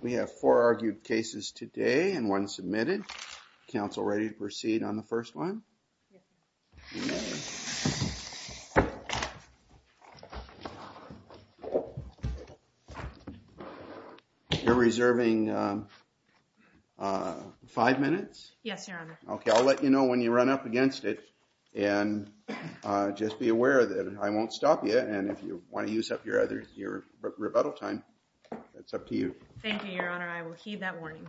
We have four argued cases today and one submitted. Council ready to proceed on the first one? You're reserving five minutes? Yes, Your Honor. Okay, I'll let you know when you run up against it and just be aware that I won't stop you. And if you want to use up your rebuttal time, that's up to you. Thank you, Your Honor. I will heed that warning.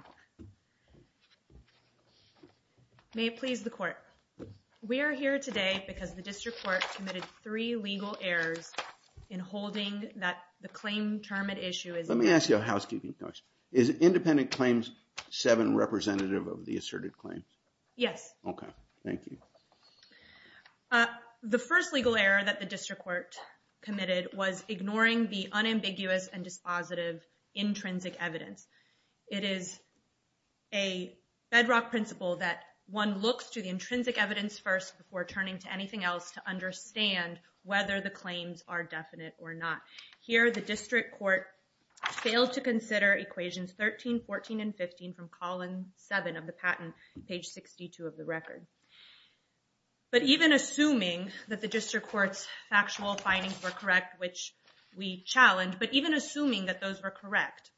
May it please the Court. We are here today because the District Court committed three legal errors in holding that the claim term at issue. Let me ask you a housekeeping question. Is Independent Claims 7 representative of the asserted claim? Yes. Okay, thank you. The first legal error that the District Court committed was ignoring the unambiguous and dispositive intrinsic evidence. It is a bedrock principle that one looks to the intrinsic evidence first before turning to anything else to understand whether the claims are definite or not. Here, the District Court failed to consider equations 13, 14, and 15 from column 7 of the patent, page 62 of the record. But even assuming that the District Court's factual findings were correct, which we challenge, but even assuming that those were correct,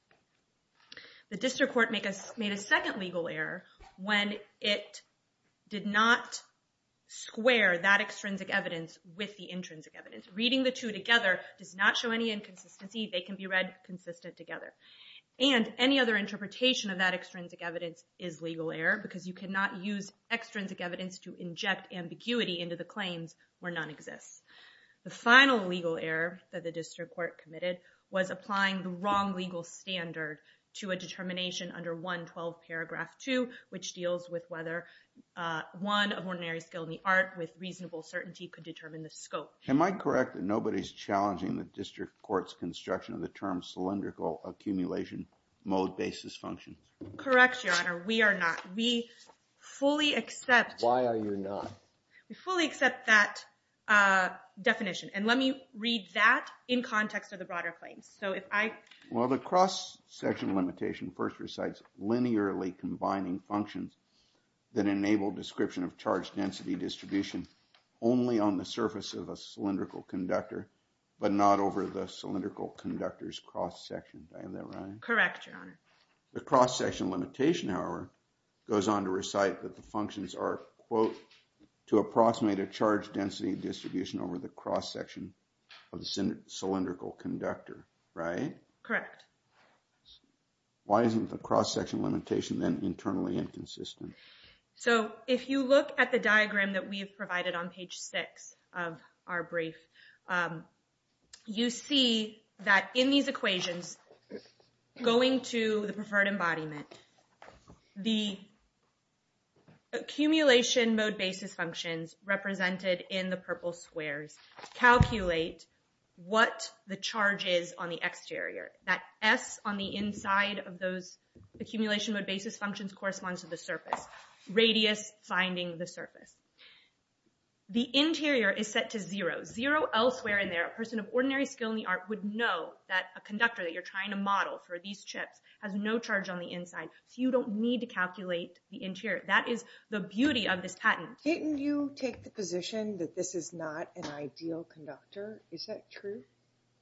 the District Court made a second legal error when it did not square that extrinsic evidence with the intrinsic evidence. Reading the two together does not show any inconsistency. They can be read consistent together. And any other interpretation of that extrinsic evidence is legal error because you cannot use extrinsic evidence to inject ambiguity into the claims where none exists. The final legal error that the District Court committed was applying the wrong legal standard to a determination under 112, paragraph 2, which deals with whether one of ordinary skill in the art with reasonable certainty could determine the scope. Am I correct that nobody's challenging the District Court's construction of the term cylindrical accumulation mode basis function? Correct, Your Honor. We are not. We fully accept... Why are you not? We fully accept that definition. And let me read that in context of the broader claims. Well, the cross-section limitation first recites linearly combining functions that enable description of charge density distribution only on the surface of a cylindrical conductor, but not over the cylindrical conductor's cross-section. Is that right? Correct, Your Honor. The cross-section limitation, however, goes on to recite that the functions are, quote, to approximate a charge density distribution over the cross-section of the cylindrical conductor, right? Correct. Why isn't the cross-section limitation then internally inconsistent? So if you look at the diagram that we have provided on page 6 of our brief, you see that in these equations, going to the preferred embodiment, the accumulation mode basis functions represented in the purple squares calculate what the charge is on the exterior. That S on the inside of those accumulation mode basis functions corresponds to the surface. Radius finding the surface. The interior is set to zero. Zero elsewhere in there. A person of ordinary skill in the art would know that a conductor that you're trying to model for these chips has no charge on the inside. So you don't need to calculate the interior. That is the beauty of this patent. Didn't you take the position that this is not an ideal conductor? Is that true?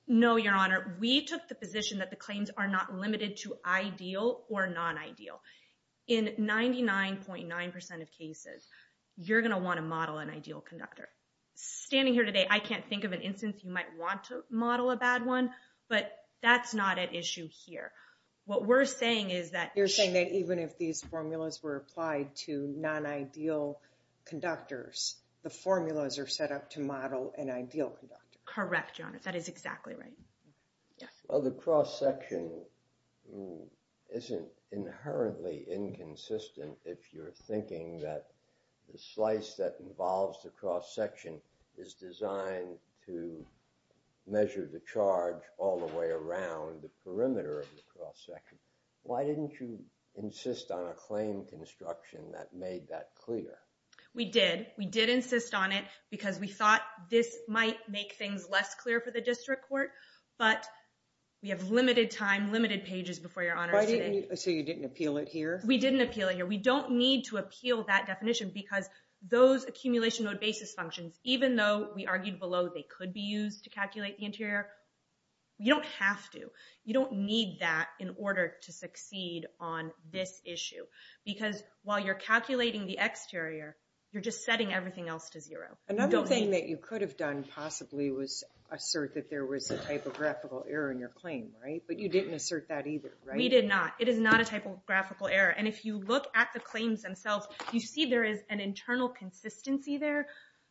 No, Your Honor. We took the position that the claims are not limited to ideal or non-ideal. In 99.9% of cases, you're going to want to model an ideal conductor. Standing here today, I can't think of an instance you might want to model a bad one, but that's not an issue here. What we're saying is that you're saying that even if these formulas were applied to non-ideal conductors, the formulas are set up to model an ideal conductor. Correct, Your Honor. That is exactly right. The cross-section isn't inherently inconsistent if you're thinking that the slice that involves the cross-section is designed to measure the charge all the way around the perimeter of the cross-section. Why didn't you insist on a claim construction that made that clear? We did. We did insist on it because we thought this might make things less clear for the district court. But we have limited time, limited pages before Your Honor. So you didn't appeal it here? We didn't appeal it here. We don't need to appeal that definition because those accumulation node basis functions, even though we argued below they could be used to calculate the interior, you don't have to. You don't need that in order to succeed on this issue. Because while you're calculating the exterior, you're just setting everything else to zero. Another thing that you could have done possibly was assert that there was a typographical error in your claim, right? But you didn't assert that either, right? We did not. It is not a typographical error. And if you look at the claims themselves, you see there is an internal consistency there.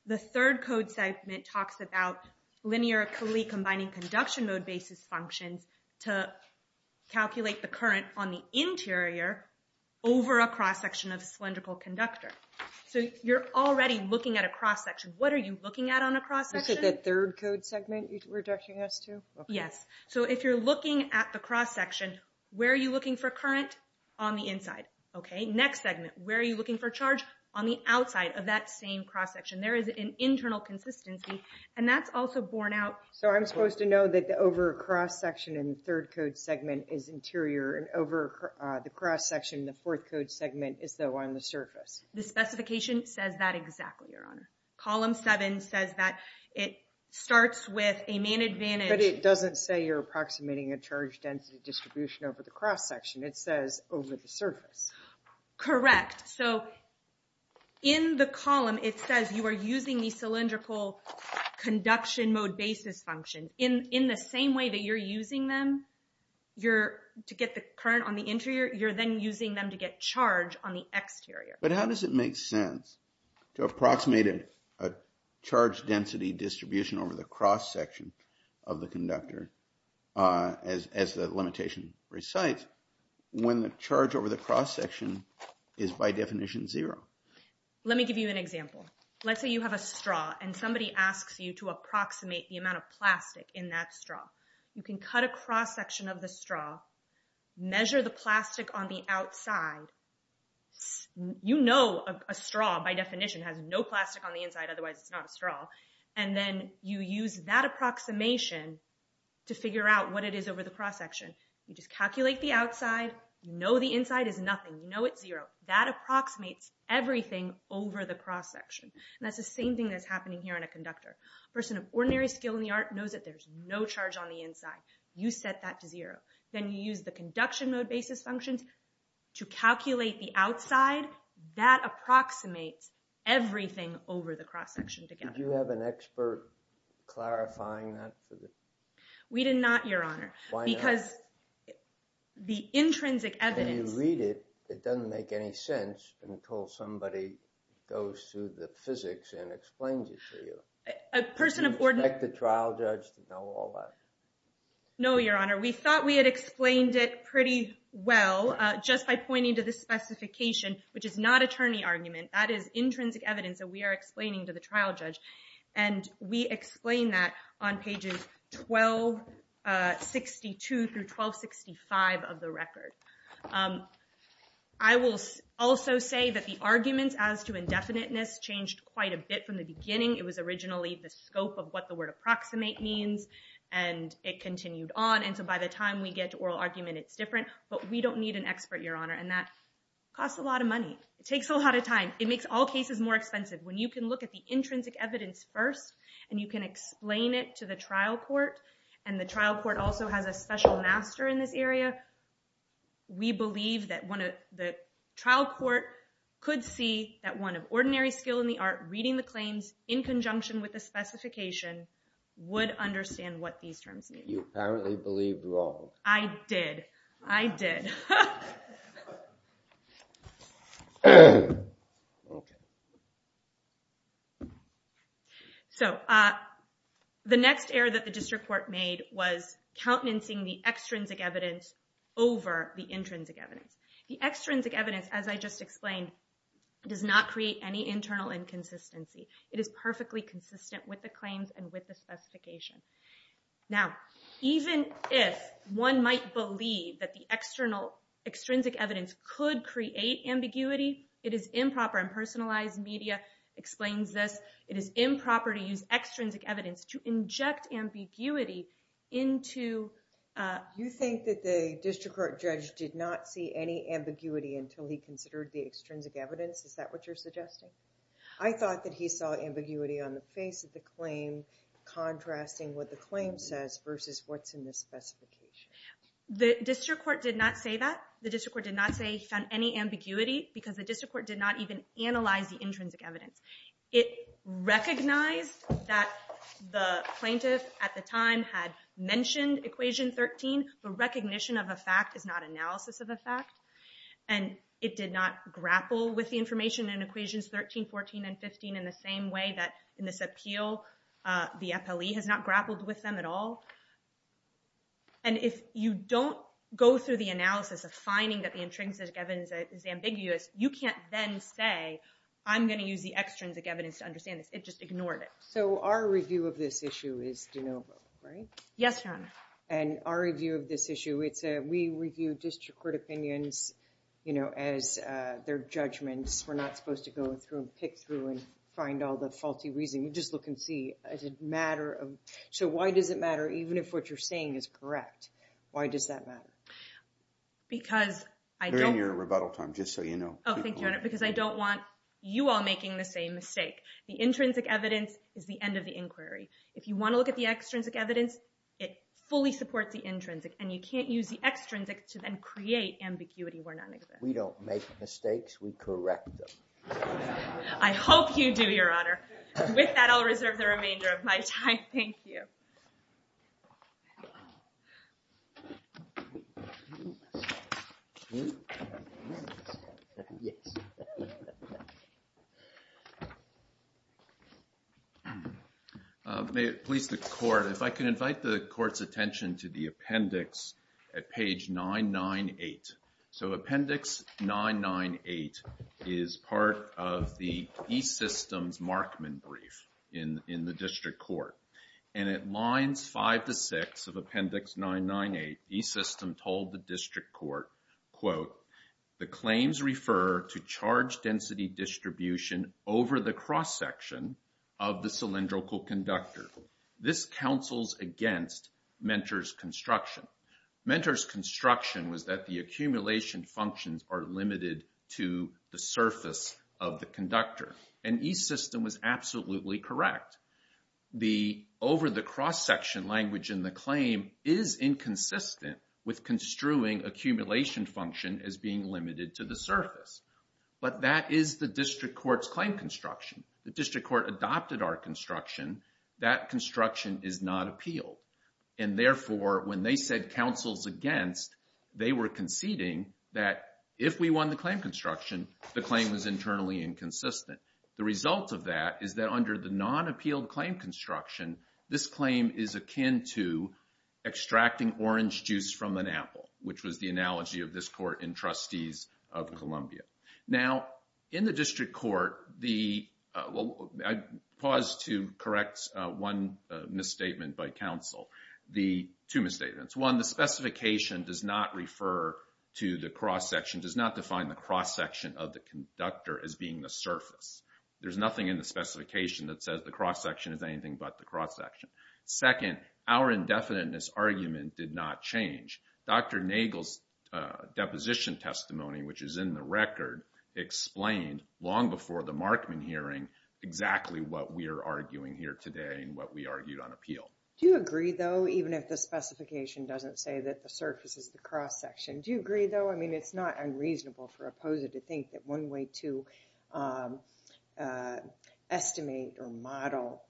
The third code segment talks about linearly combining conduction node basis functions to calculate the current on the interior over a cross-section of a cylindrical conductor. So you're already looking at a cross-section. What are you looking at on a cross-section? Is it the third code segment you're directing us to? Yes. So if you're looking at the cross-section, where are you looking for current? On the inside, okay? The next segment, where are you looking for charge? On the outside of that same cross-section. There is an internal consistency, and that's also borne out. So I'm supposed to know that over a cross-section in the third code segment is interior, and over the cross-section in the fourth code segment is though on the surface. The specification says that exactly, Your Honor. Column 7 says that it starts with a main advantage. But it doesn't say you're approximating a charge density distribution over the cross-section. It says over the surface. Correct. So in the column, it says you are using the cylindrical conduction mode basis function. In the same way that you're using them to get the current on the interior, you're then using them to get charge on the exterior. But how does it make sense to approximate a charge density distribution over the cross-section of the conductor as the limitation recites, when the charge over the cross-section is by definition zero? Let me give you an example. Let's say you have a straw, and somebody asks you to approximate the amount of plastic in that straw. You can cut a cross-section of the straw, measure the plastic on the outside. You know a straw, by definition, has no plastic on the inside, otherwise it's not a straw. And then you use that approximation to figure out what it is over the cross-section. You just calculate the outside, know the inside is nothing, know it's zero. That approximates everything over the cross-section. And that's the same thing that's happening here on a conductor. A person of ordinary skill in the art knows that there's no charge on the inside. You set that to zero. Then you use the conduction mode basis functions to calculate the outside. That approximates everything over the cross-section together. Did you have an expert clarifying that? We did not, Your Honor. Why not? Because the intrinsic evidence... When you read it, it doesn't make any sense until somebody goes through the physics and explains it to you. A person of ordinary... Do you expect the trial judge to know all that? No, Your Honor. We thought we had explained it pretty well just by pointing to the specification, which is not attorney argument. That is intrinsic evidence that we are explaining to the trial judge. And we explain that on pages 1262 through 1265 of the record. I will also say that the arguments as to indefiniteness changed quite a bit from the beginning. It was originally the scope of what the word approximate means, and it continued on. And so by the time we get to oral argument, it's different. But we don't need an expert, Your Honor. And that costs a lot of money. It takes a lot of time. It makes all cases more expensive. When you can look at the intrinsic evidence first, and you can explain it to the trial court, and the trial court also has a special master in this area, we believe that the trial court could see that one of ordinary skill in the art, reading the claims in conjunction with the specification, would understand what these terms mean. You apparently believed wrong. I did. I did. So the next error that the district court made was countenancing the extrinsic evidence over the intrinsic evidence. The extrinsic evidence, as I just explained, does not create any internal inconsistency. It is perfectly consistent with the claims and with the specification. Now, even if one might believe that the extrinsic evidence could create ambiguity, it is improper. Impersonalized media explains this. It is improper to use extrinsic evidence to inject ambiguity into. You think that the district court judge did not see any ambiguity until he considered the extrinsic evidence? Is that what you're suggesting? I thought that he saw ambiguity on the face of the claim, contrasting what the claim says versus what's in the specification. The district court did not say that. The district court did not say he found any ambiguity, because the district court did not even analyze the intrinsic evidence. It recognized that the plaintiff at the time had mentioned equation 13, but recognition of a fact is not analysis of a fact, and it did not grapple with the information in equations 13, 14, and 15 in the same way that in this appeal the FLE has not grappled with them at all. And if you don't go through the analysis of finding that the intrinsic evidence is ambiguous, you can't then say, I'm going to use the extrinsic evidence to understand this. It just ignored it. So our review of this issue is de novo, right? Yes, Your Honor. And our review of this issue, we review district court opinions as their judgments. We're not supposed to go through and pick through and find all the faulty reasoning. We just look and see, does it matter? So why does it matter even if what you're saying is correct? Why does that matter? During your rebuttal time, just so you know. Oh, thank you, Your Honor, because I don't want you all making the same mistake. The intrinsic evidence is the end of the inquiry. If you want to look at the extrinsic evidence, it fully supports the intrinsic. And you can't use the extrinsic to then create ambiguity where none exists. We don't make mistakes. We correct them. I hope you do, Your Honor. With that, I'll reserve the remainder of my time. Thank you. May it please the court, if I can invite the court's attention to the appendix at page 998. So appendix 998 is part of the E-Systems Markman brief in the district court. And at lines 5 to 6 of appendix 998, E-System told the district court, quote, The claims refer to charge density distribution over the cross-section of the cylindrical conductor. This counsels against Mentor's construction. Mentor's construction was that the accumulation functions are limited to the surface of the conductor. And E-System was absolutely correct. The over-the-cross-section language in the claim is inconsistent with construing accumulation function as being limited to the surface. But that is the district court's claim construction. The district court adopted our construction. That construction is not appealed. And therefore, when they said counsels against, they were conceding that if we won the claim construction, the claim was internally inconsistent. The result of that is that under the non-appealed claim construction, this claim is akin to extracting orange juice from an apple, which was the analogy of this court in Trustees of Columbia. Now, in the district court, I pause to correct one misstatement by counsel, two misstatements. One, the specification does not refer to the cross-section, does not define the cross-section of the conductor as being the surface. There's nothing in the specification that says the cross-section is anything but the cross-section. Second, our indefiniteness argument did not change. Dr. Nagel's deposition testimony, which is in the record, explained long before the Markman hearing exactly what we are arguing here today and what we argued on appeal. Do you agree, though, even if the specification doesn't say that the surface is the cross-section? Do you agree, though? I mean, it's not unreasonable for a POSA to think that one way to estimate or model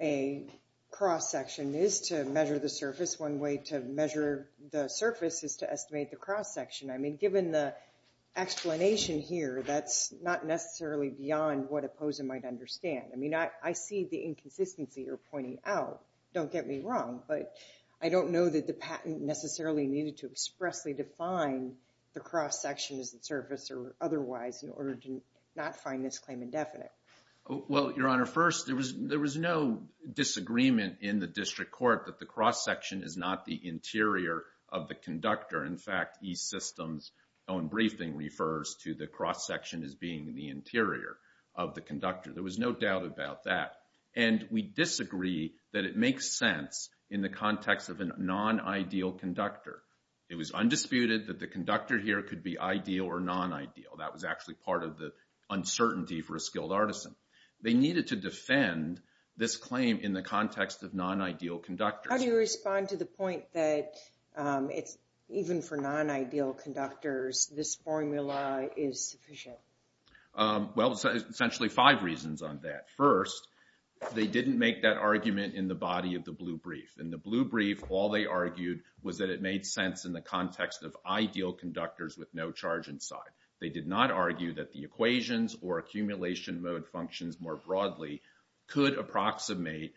a cross-section is to measure the surface. One way to measure the surface is to estimate the cross-section. I mean, given the explanation here, that's not necessarily beyond what a POSA might understand. I mean, I see the inconsistency you're pointing out. Don't get me wrong, but I don't know that the patent necessarily needed to expressly define the cross-section as the surface or otherwise in order to not find this claim indefinite. Well, Your Honor, first, there was no disagreement in the district court that the cross-section is not the interior of the conductor. In fact, East System's own briefing refers to the cross-section as being the interior of the conductor. There was no doubt about that. And we disagree that it makes sense in the context of a non-ideal conductor. It was undisputed that the conductor here could be ideal or non-ideal. That was actually part of the uncertainty for a skilled artisan. They needed to defend this claim in the context of non-ideal conductors. How do you respond to the point that even for non-ideal conductors, this formula is sufficient? Well, essentially five reasons on that. First, they didn't make that argument in the body of the blue brief. In the blue brief, all they argued was that it made sense in the context of ideal conductors with no charge inside. They did not argue that the equations or accumulation mode functions more broadly could approximate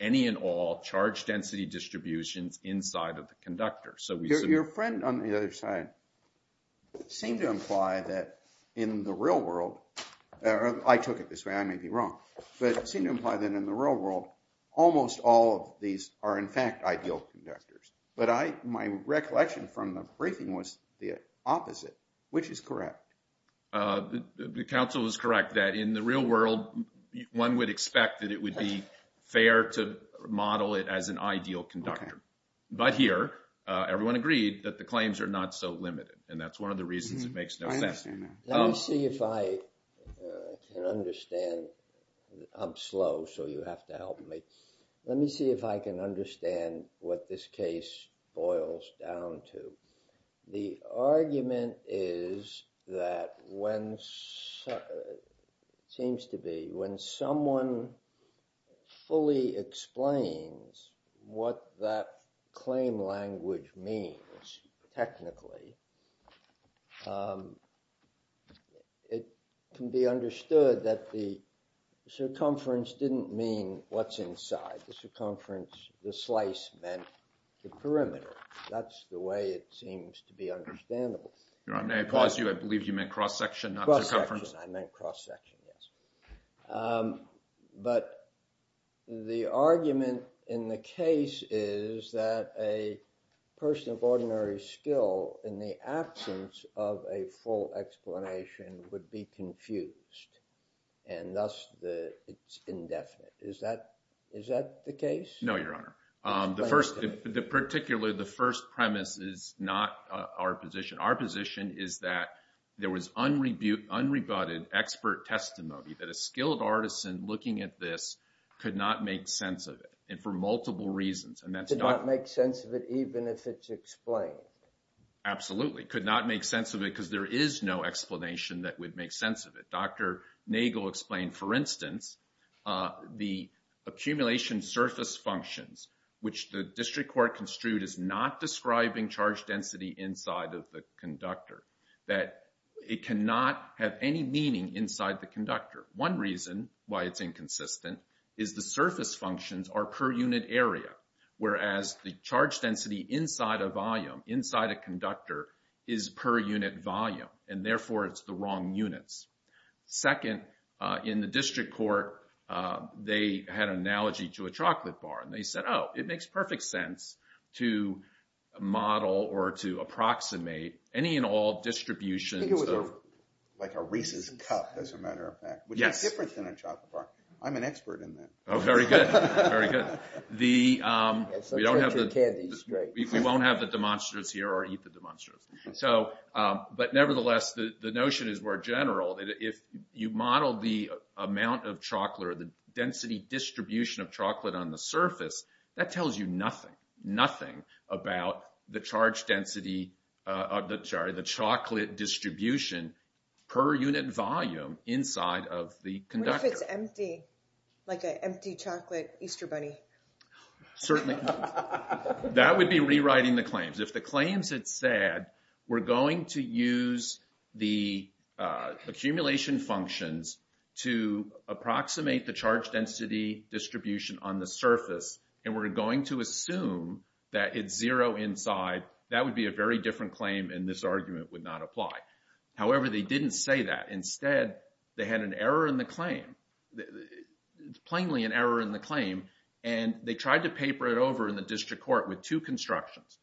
any and all charge density distributions inside of the conductor. Your friend on the other side seemed to imply that in the real world, or I took it this way, I may be wrong, but it seemed to imply that in the real world, almost all of these are in fact ideal conductors. But my recollection from the briefing was the opposite, which is correct. The counsel is correct that in the real world, one would expect that it would be fair to model it as an ideal conductor. But here, everyone agreed that the claims are not so limited, and that's one of the reasons it makes no sense. Let me see if I can understand. I'm slow, so you have to help me. Let me see if I can understand what this case boils down to. The argument is that when someone fully explains what that claim language means technically, it can be understood that the circumference didn't mean what's inside. The slice meant the perimeter. That's the way it seems to be understandable. May I pause you? I believe you meant cross-section, not circumference. I meant cross-section, yes. But the argument in the case is that a person of ordinary skill, in the absence of a full explanation, would be confused, and thus it's indefinite. Is that the case? No, Your Honor. The first premise is not our position. Our position is that there was unrebutted expert testimony that a skilled artisan looking at this could not make sense of it, and for multiple reasons. Could not make sense of it even if it's explained. Absolutely. Could not make sense of it because there is no explanation that would make sense of it. Dr. Nagel explained, for instance, the accumulation surface functions, which the district court construed is not describing charge density inside of the conductor. That it cannot have any meaning inside the conductor. One reason why it's inconsistent is the surface functions are per unit area, whereas the charge density inside a volume, inside a conductor, is per unit volume. And therefore, it's the wrong units. Second, in the district court, they had an analogy to a chocolate bar. And they said, oh, it makes perfect sense to model or to approximate any and all distributions of... I think it was like a Reese's Cup, as a matter of fact. Yes. Which is different than a chocolate bar. I'm an expert in that. Oh, very good. Very good. We won't have the demonstrators here or eat the demonstrators. But nevertheless, the notion is more general. If you model the amount of chocolate or the density distribution of chocolate on the surface, that tells you nothing. Nothing about the chocolate distribution per unit volume inside of the conductor. What if it's empty, like an empty chocolate Easter bunny? That would be rewriting the claims. If the claims had said, we're going to use the accumulation functions to approximate the charge density distribution on the surface. And we're going to assume that it's zero inside. That would be a very different claim, and this argument would not apply. However, they didn't say that. Instead, they had an error in the claim, plainly an error in the claim. And they tried to paper it over in the district court with two constructions.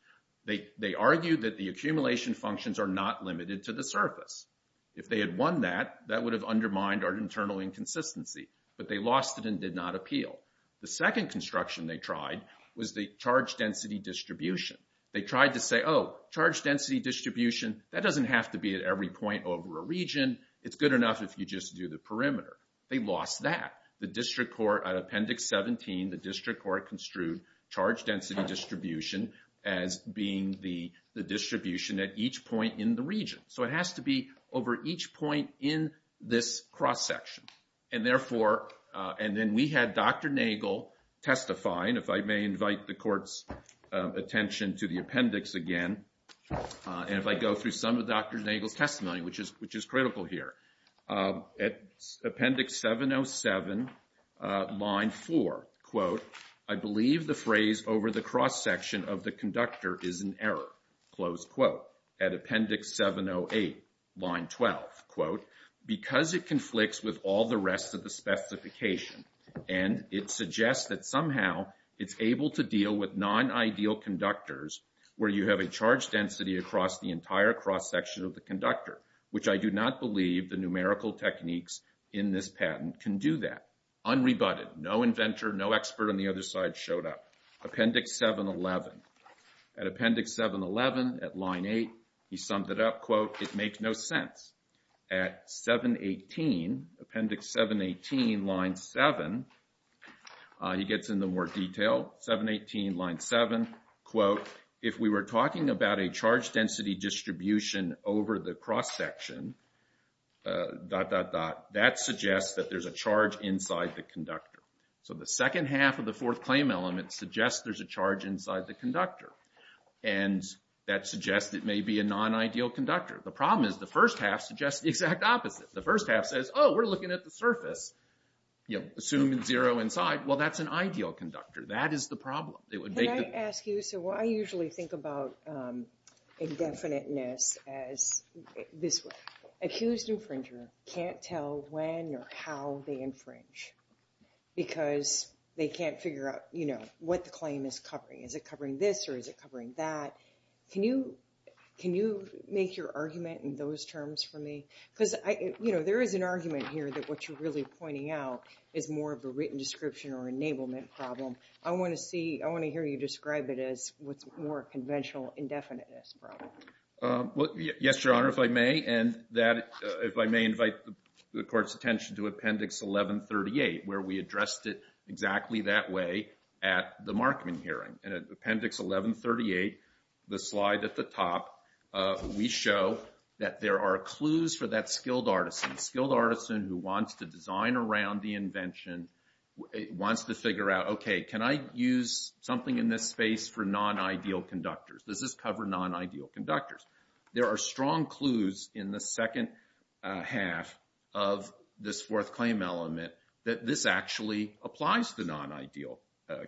They argued that the accumulation functions are not limited to the surface. If they had won that, that would have undermined our internal inconsistency. But they lost it and did not appeal. The second construction they tried was the charge density distribution. They tried to say, oh, charge density distribution, that doesn't have to be at every point over a region. It's good enough if you just do the perimeter. They lost that. At Appendix 17, the district court construed charge density distribution as being the distribution at each point in the region. So it has to be over each point in this cross-section. And then we had Dr. Nagel testify. And if I may invite the court's attention to the appendix again. And if I go through some of Dr. Nagel's testimony, which is critical here. At Appendix 707, line 4, quote, I believe the phrase over the cross-section of the conductor is an error, close quote. At Appendix 708, line 12, quote, because it conflicts with all the rest of the specification. And it suggests that somehow it's able to deal with non-ideal conductors where you have a charge density across the entire cross-section of the conductor. Which I do not believe the numerical techniques in this patent can do that. Unrebutted, no inventor, no expert on the other side showed up. Appendix 711. At Appendix 711, at line 8, he summed it up, quote, it makes no sense. At 718, Appendix 718, line 7, he gets into more detail. 718, line 7, quote, if we were talking about a charge density distribution over the cross-section, dot, dot, dot, that suggests that there's a charge inside the conductor. So the second half of the fourth claim element suggests there's a charge inside the conductor. And that suggests it may be a non-ideal conductor. The problem is the first half suggests the exact opposite. The first half says, oh, we're looking at the surface. Assume zero inside. Well, that's an ideal conductor. That is the problem. Can I ask you? So I usually think about indefiniteness as this way. Accused infringer can't tell when or how they infringe because they can't figure out what the claim is covering. Is it covering this or is it covering that? Can you make your argument in those terms for me? Because there is an argument here that what you're really pointing out is more of a written description or enablement problem. I want to hear you describe it as what's more conventional indefiniteness problem. Yes, Your Honor, if I may. And if I may invite the court's attention to Appendix 1138, where we addressed it exactly that way at the Markman hearing. In Appendix 1138, the slide at the top, we show that there are clues for that skilled artisan. Skilled artisan who wants to design around the invention wants to figure out, okay, can I use something in this space for non-ideal conductors? Does this cover non-ideal conductors? There are strong clues in the second half of this fourth claim element that this actually applies to non-ideal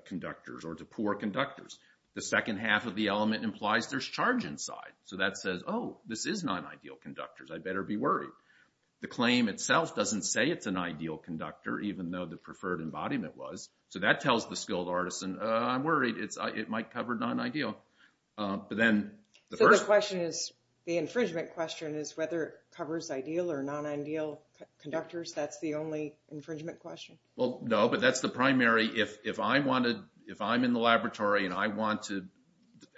conductors or to poor conductors. The second half of the element implies there's charge inside. So that says, oh, this is non-ideal conductors. I better be worried. The claim itself doesn't say it's an ideal conductor, even though the preferred embodiment was. So that tells the skilled artisan, I'm worried it might cover non-ideal. So the question is, the infringement question is whether it covers ideal or non-ideal conductors. That's the only infringement question. Well, no, but that's the primary. If I'm in the laboratory and I want to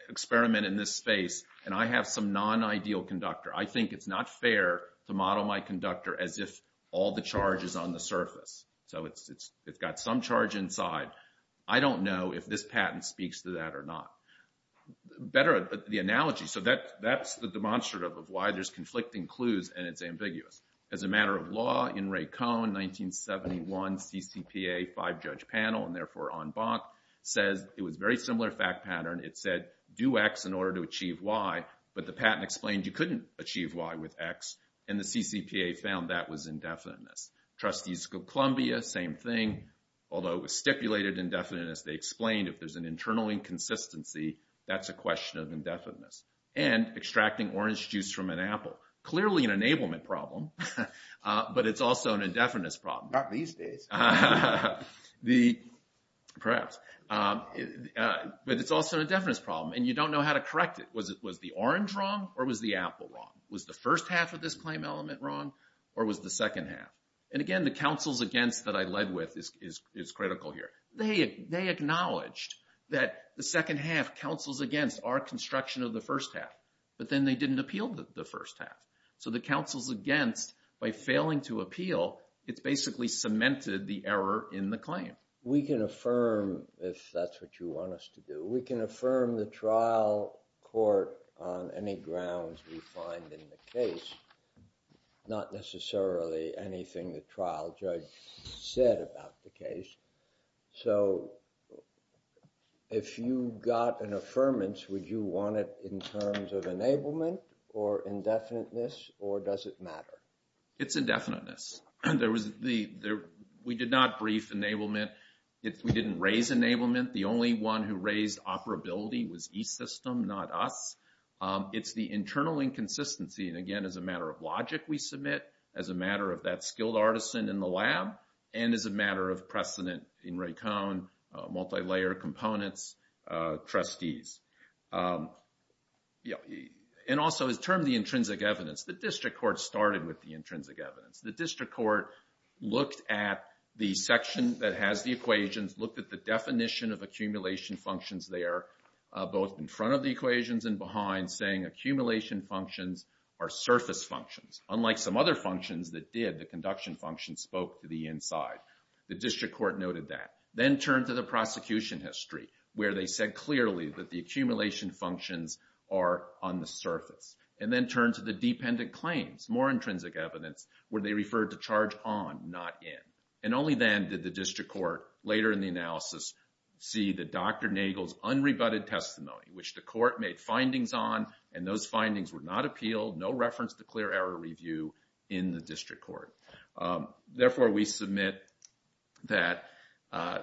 experiment in this space and I have some non-ideal conductor, I think it's not fair to model my conductor as if all the charge is on the surface. So it's got some charge inside. I don't know if this patent speaks to that or not. Better the analogy. So that's the demonstrative of why there's conflicting clues and it's ambiguous. As a matter of law, in Ray Cohn, 1971, CCPA five-judge panel, and therefore en banc, says it was a very similar fact pattern. It said do X in order to achieve Y, but the patent explained you couldn't achieve Y with X, and the CCPA found that was indefiniteness. Trustees of Columbia, same thing. Although it was stipulated indefiniteness, they explained if there's an internal inconsistency, that's a question of indefiniteness. And extracting orange juice from an apple, clearly an enablement problem, but it's also an indefiniteness problem. Not these days. Perhaps. But it's also an indefiniteness problem, and you don't know how to correct it. Was the orange wrong or was the apple wrong? Was the first half of this claim element wrong or was the second half? And again, the counsels against that I led with is critical here. They acknowledged that the second half, counsels against, are construction of the first half. But then they didn't appeal the first half. So the counsels against, by failing to appeal, it's basically cemented the error in the claim. We can affirm, if that's what you want us to do, we can affirm the trial court on any grounds we find in the case. Not necessarily anything the trial judge said about the case. So if you got an affirmance, would you want it in terms of enablement or indefiniteness or does it matter? It's indefiniteness. We did not brief enablement. We didn't raise enablement. The only one who raised operability was e-System, not us. It's the internal inconsistency, and again, as a matter of logic we submit, as a matter of that skilled artisan in the lab, and as a matter of precedent in Ray Cohn, multilayer components, trustees. And also his term, the intrinsic evidence. The district court started with the intrinsic evidence. The district court looked at the section that has the equations, looked at the definition of accumulation functions there, both in front of the equations and behind, saying accumulation functions are surface functions. Unlike some other functions that did, the conduction function spoke to the inside. The district court noted that. Then turned to the prosecution history, where they said clearly that the accumulation functions are on the surface. And then turned to the dependent claims, more intrinsic evidence, where they referred to charge on, not in. And only then did the district court, later in the analysis, see that Dr. Nagel's unrebutted testimony, which the court made findings on, and those findings were not appealed, no reference to clear error review in the district court. Therefore, we submit that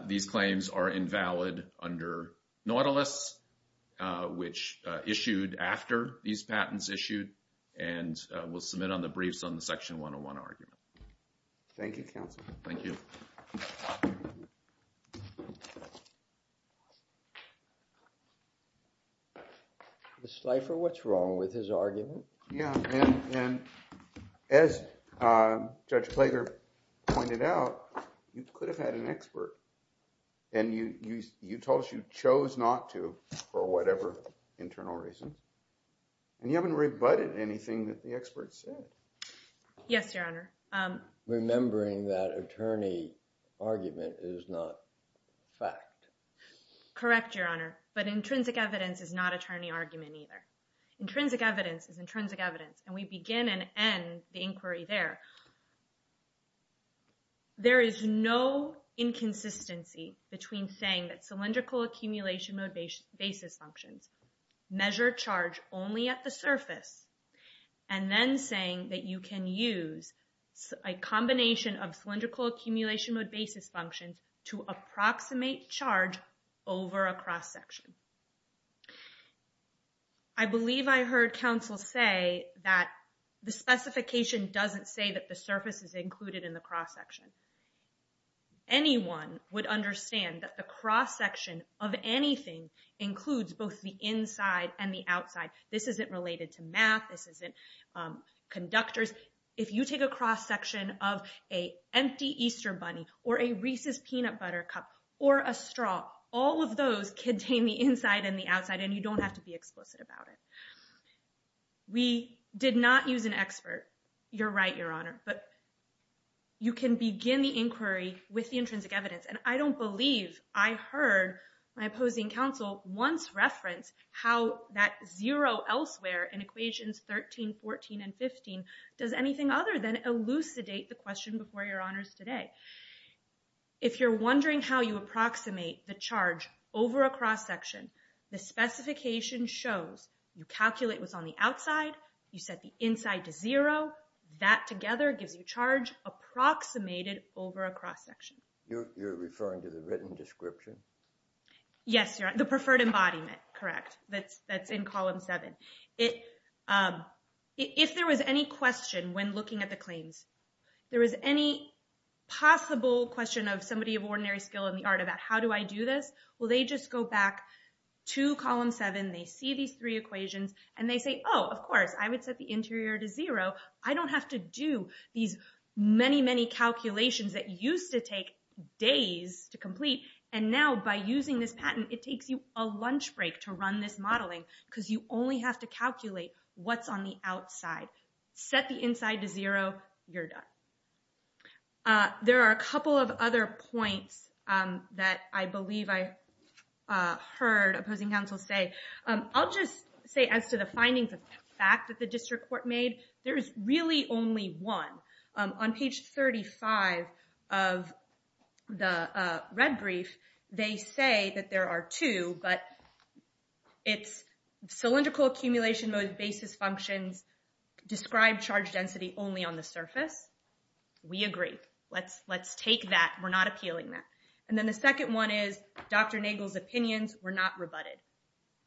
these claims are invalid under Nautilus, which issued after these patents issued. And we'll submit on the briefs on the Section 101 argument. Thank you, Counselor. Thank you. Ms. Slifer, what's wrong with his argument? Yeah, and as Judge Klager pointed out, you could have had an expert. And you told us you chose not to for whatever internal reason. And you haven't rebutted anything that the expert said. Yes, Your Honor. Remembering that attorney argument is not fact. Correct, Your Honor. But intrinsic evidence is not attorney argument either. Intrinsic evidence is intrinsic evidence. And we begin and end the inquiry there. There is no inconsistency between saying that cylindrical accumulation mode basis functions measure charge only at the surface, and then saying that you can use a combination of cylindrical accumulation mode basis functions to approximate charge over a cross-section. I believe I heard Counsel say that the specification doesn't say that the surface is included in the cross-section. Anyone would understand that the cross-section of anything includes both the inside and the outside. This isn't related to math. This isn't conductors. If you take a cross-section of an empty Easter bunny or a Reese's peanut butter cup or a straw, all of those contain the inside and the outside. And you don't have to be explicit about it. We did not use an expert. You're right, Your Honor. But you can begin the inquiry with the intrinsic evidence. And I don't believe I heard my opposing counsel once reference how that zero elsewhere in equations 13, 14, and 15 does anything other than elucidate the question before Your Honors today. If you're wondering how you approximate the charge over a cross-section, the specification shows you calculate what's on the outside, you set the inside to zero, that together gives you charge approximated over a cross-section. You're referring to the written description? Yes, Your Honor, the preferred embodiment, correct, that's in column seven. If there was any question when looking at the claims, there was any possible question of somebody of ordinary skill in the art about how do I do this? Well, they just go back to column seven, they see these three equations, and they say, oh, of course, I would set the interior to zero. I don't have to do these many, many calculations that used to take days to complete. And now by using this patent, it takes you a lunch break to run this modeling because you only have to calculate what's on the outside. Set the inside to zero, you're done. There are a couple of other points that I believe I heard opposing counsel say. I'll just say as to the findings of fact that the district court made, there is really only one. On page 35 of the red brief, they say that there are two, but it's cylindrical accumulation mode basis functions describe charge density only on the surface. We agree, let's take that, we're not appealing that. And then the second one is Dr. Nagel's opinions were not rebutted.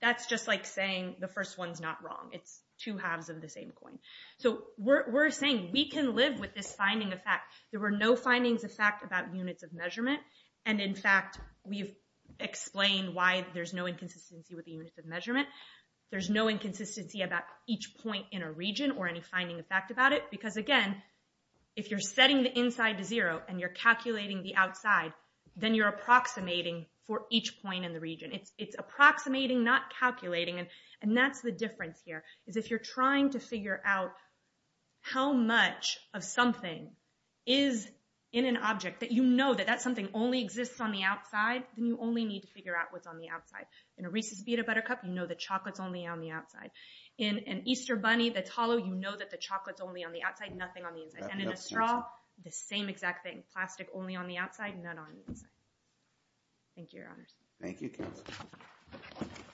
That's just like saying the first one's not wrong. It's two halves of the same coin. So we're saying we can live with this finding of fact. There were no findings of fact about units of measurement. And in fact, we've explained why there's no inconsistency with the units of measurement. There's no inconsistency about each point in a region or any finding of fact about it. Because again, if you're setting the inside to zero and you're calculating the outside, then you're approximating for each point in the region. It's approximating, not calculating. And that's the difference here, is if you're trying to figure out how much of something is in an object, that you know that that something only exists on the outside, then you only need to figure out what's on the outside. In a Reese's pita buttercup, you know the chocolate's only on the outside. In an Easter bunny that's hollow, you know that the chocolate's only on the outside, nothing on the inside. And in a straw, the same exact thing. Plastic only on the outside, none on the inside. Thank you, your honors. Thank you.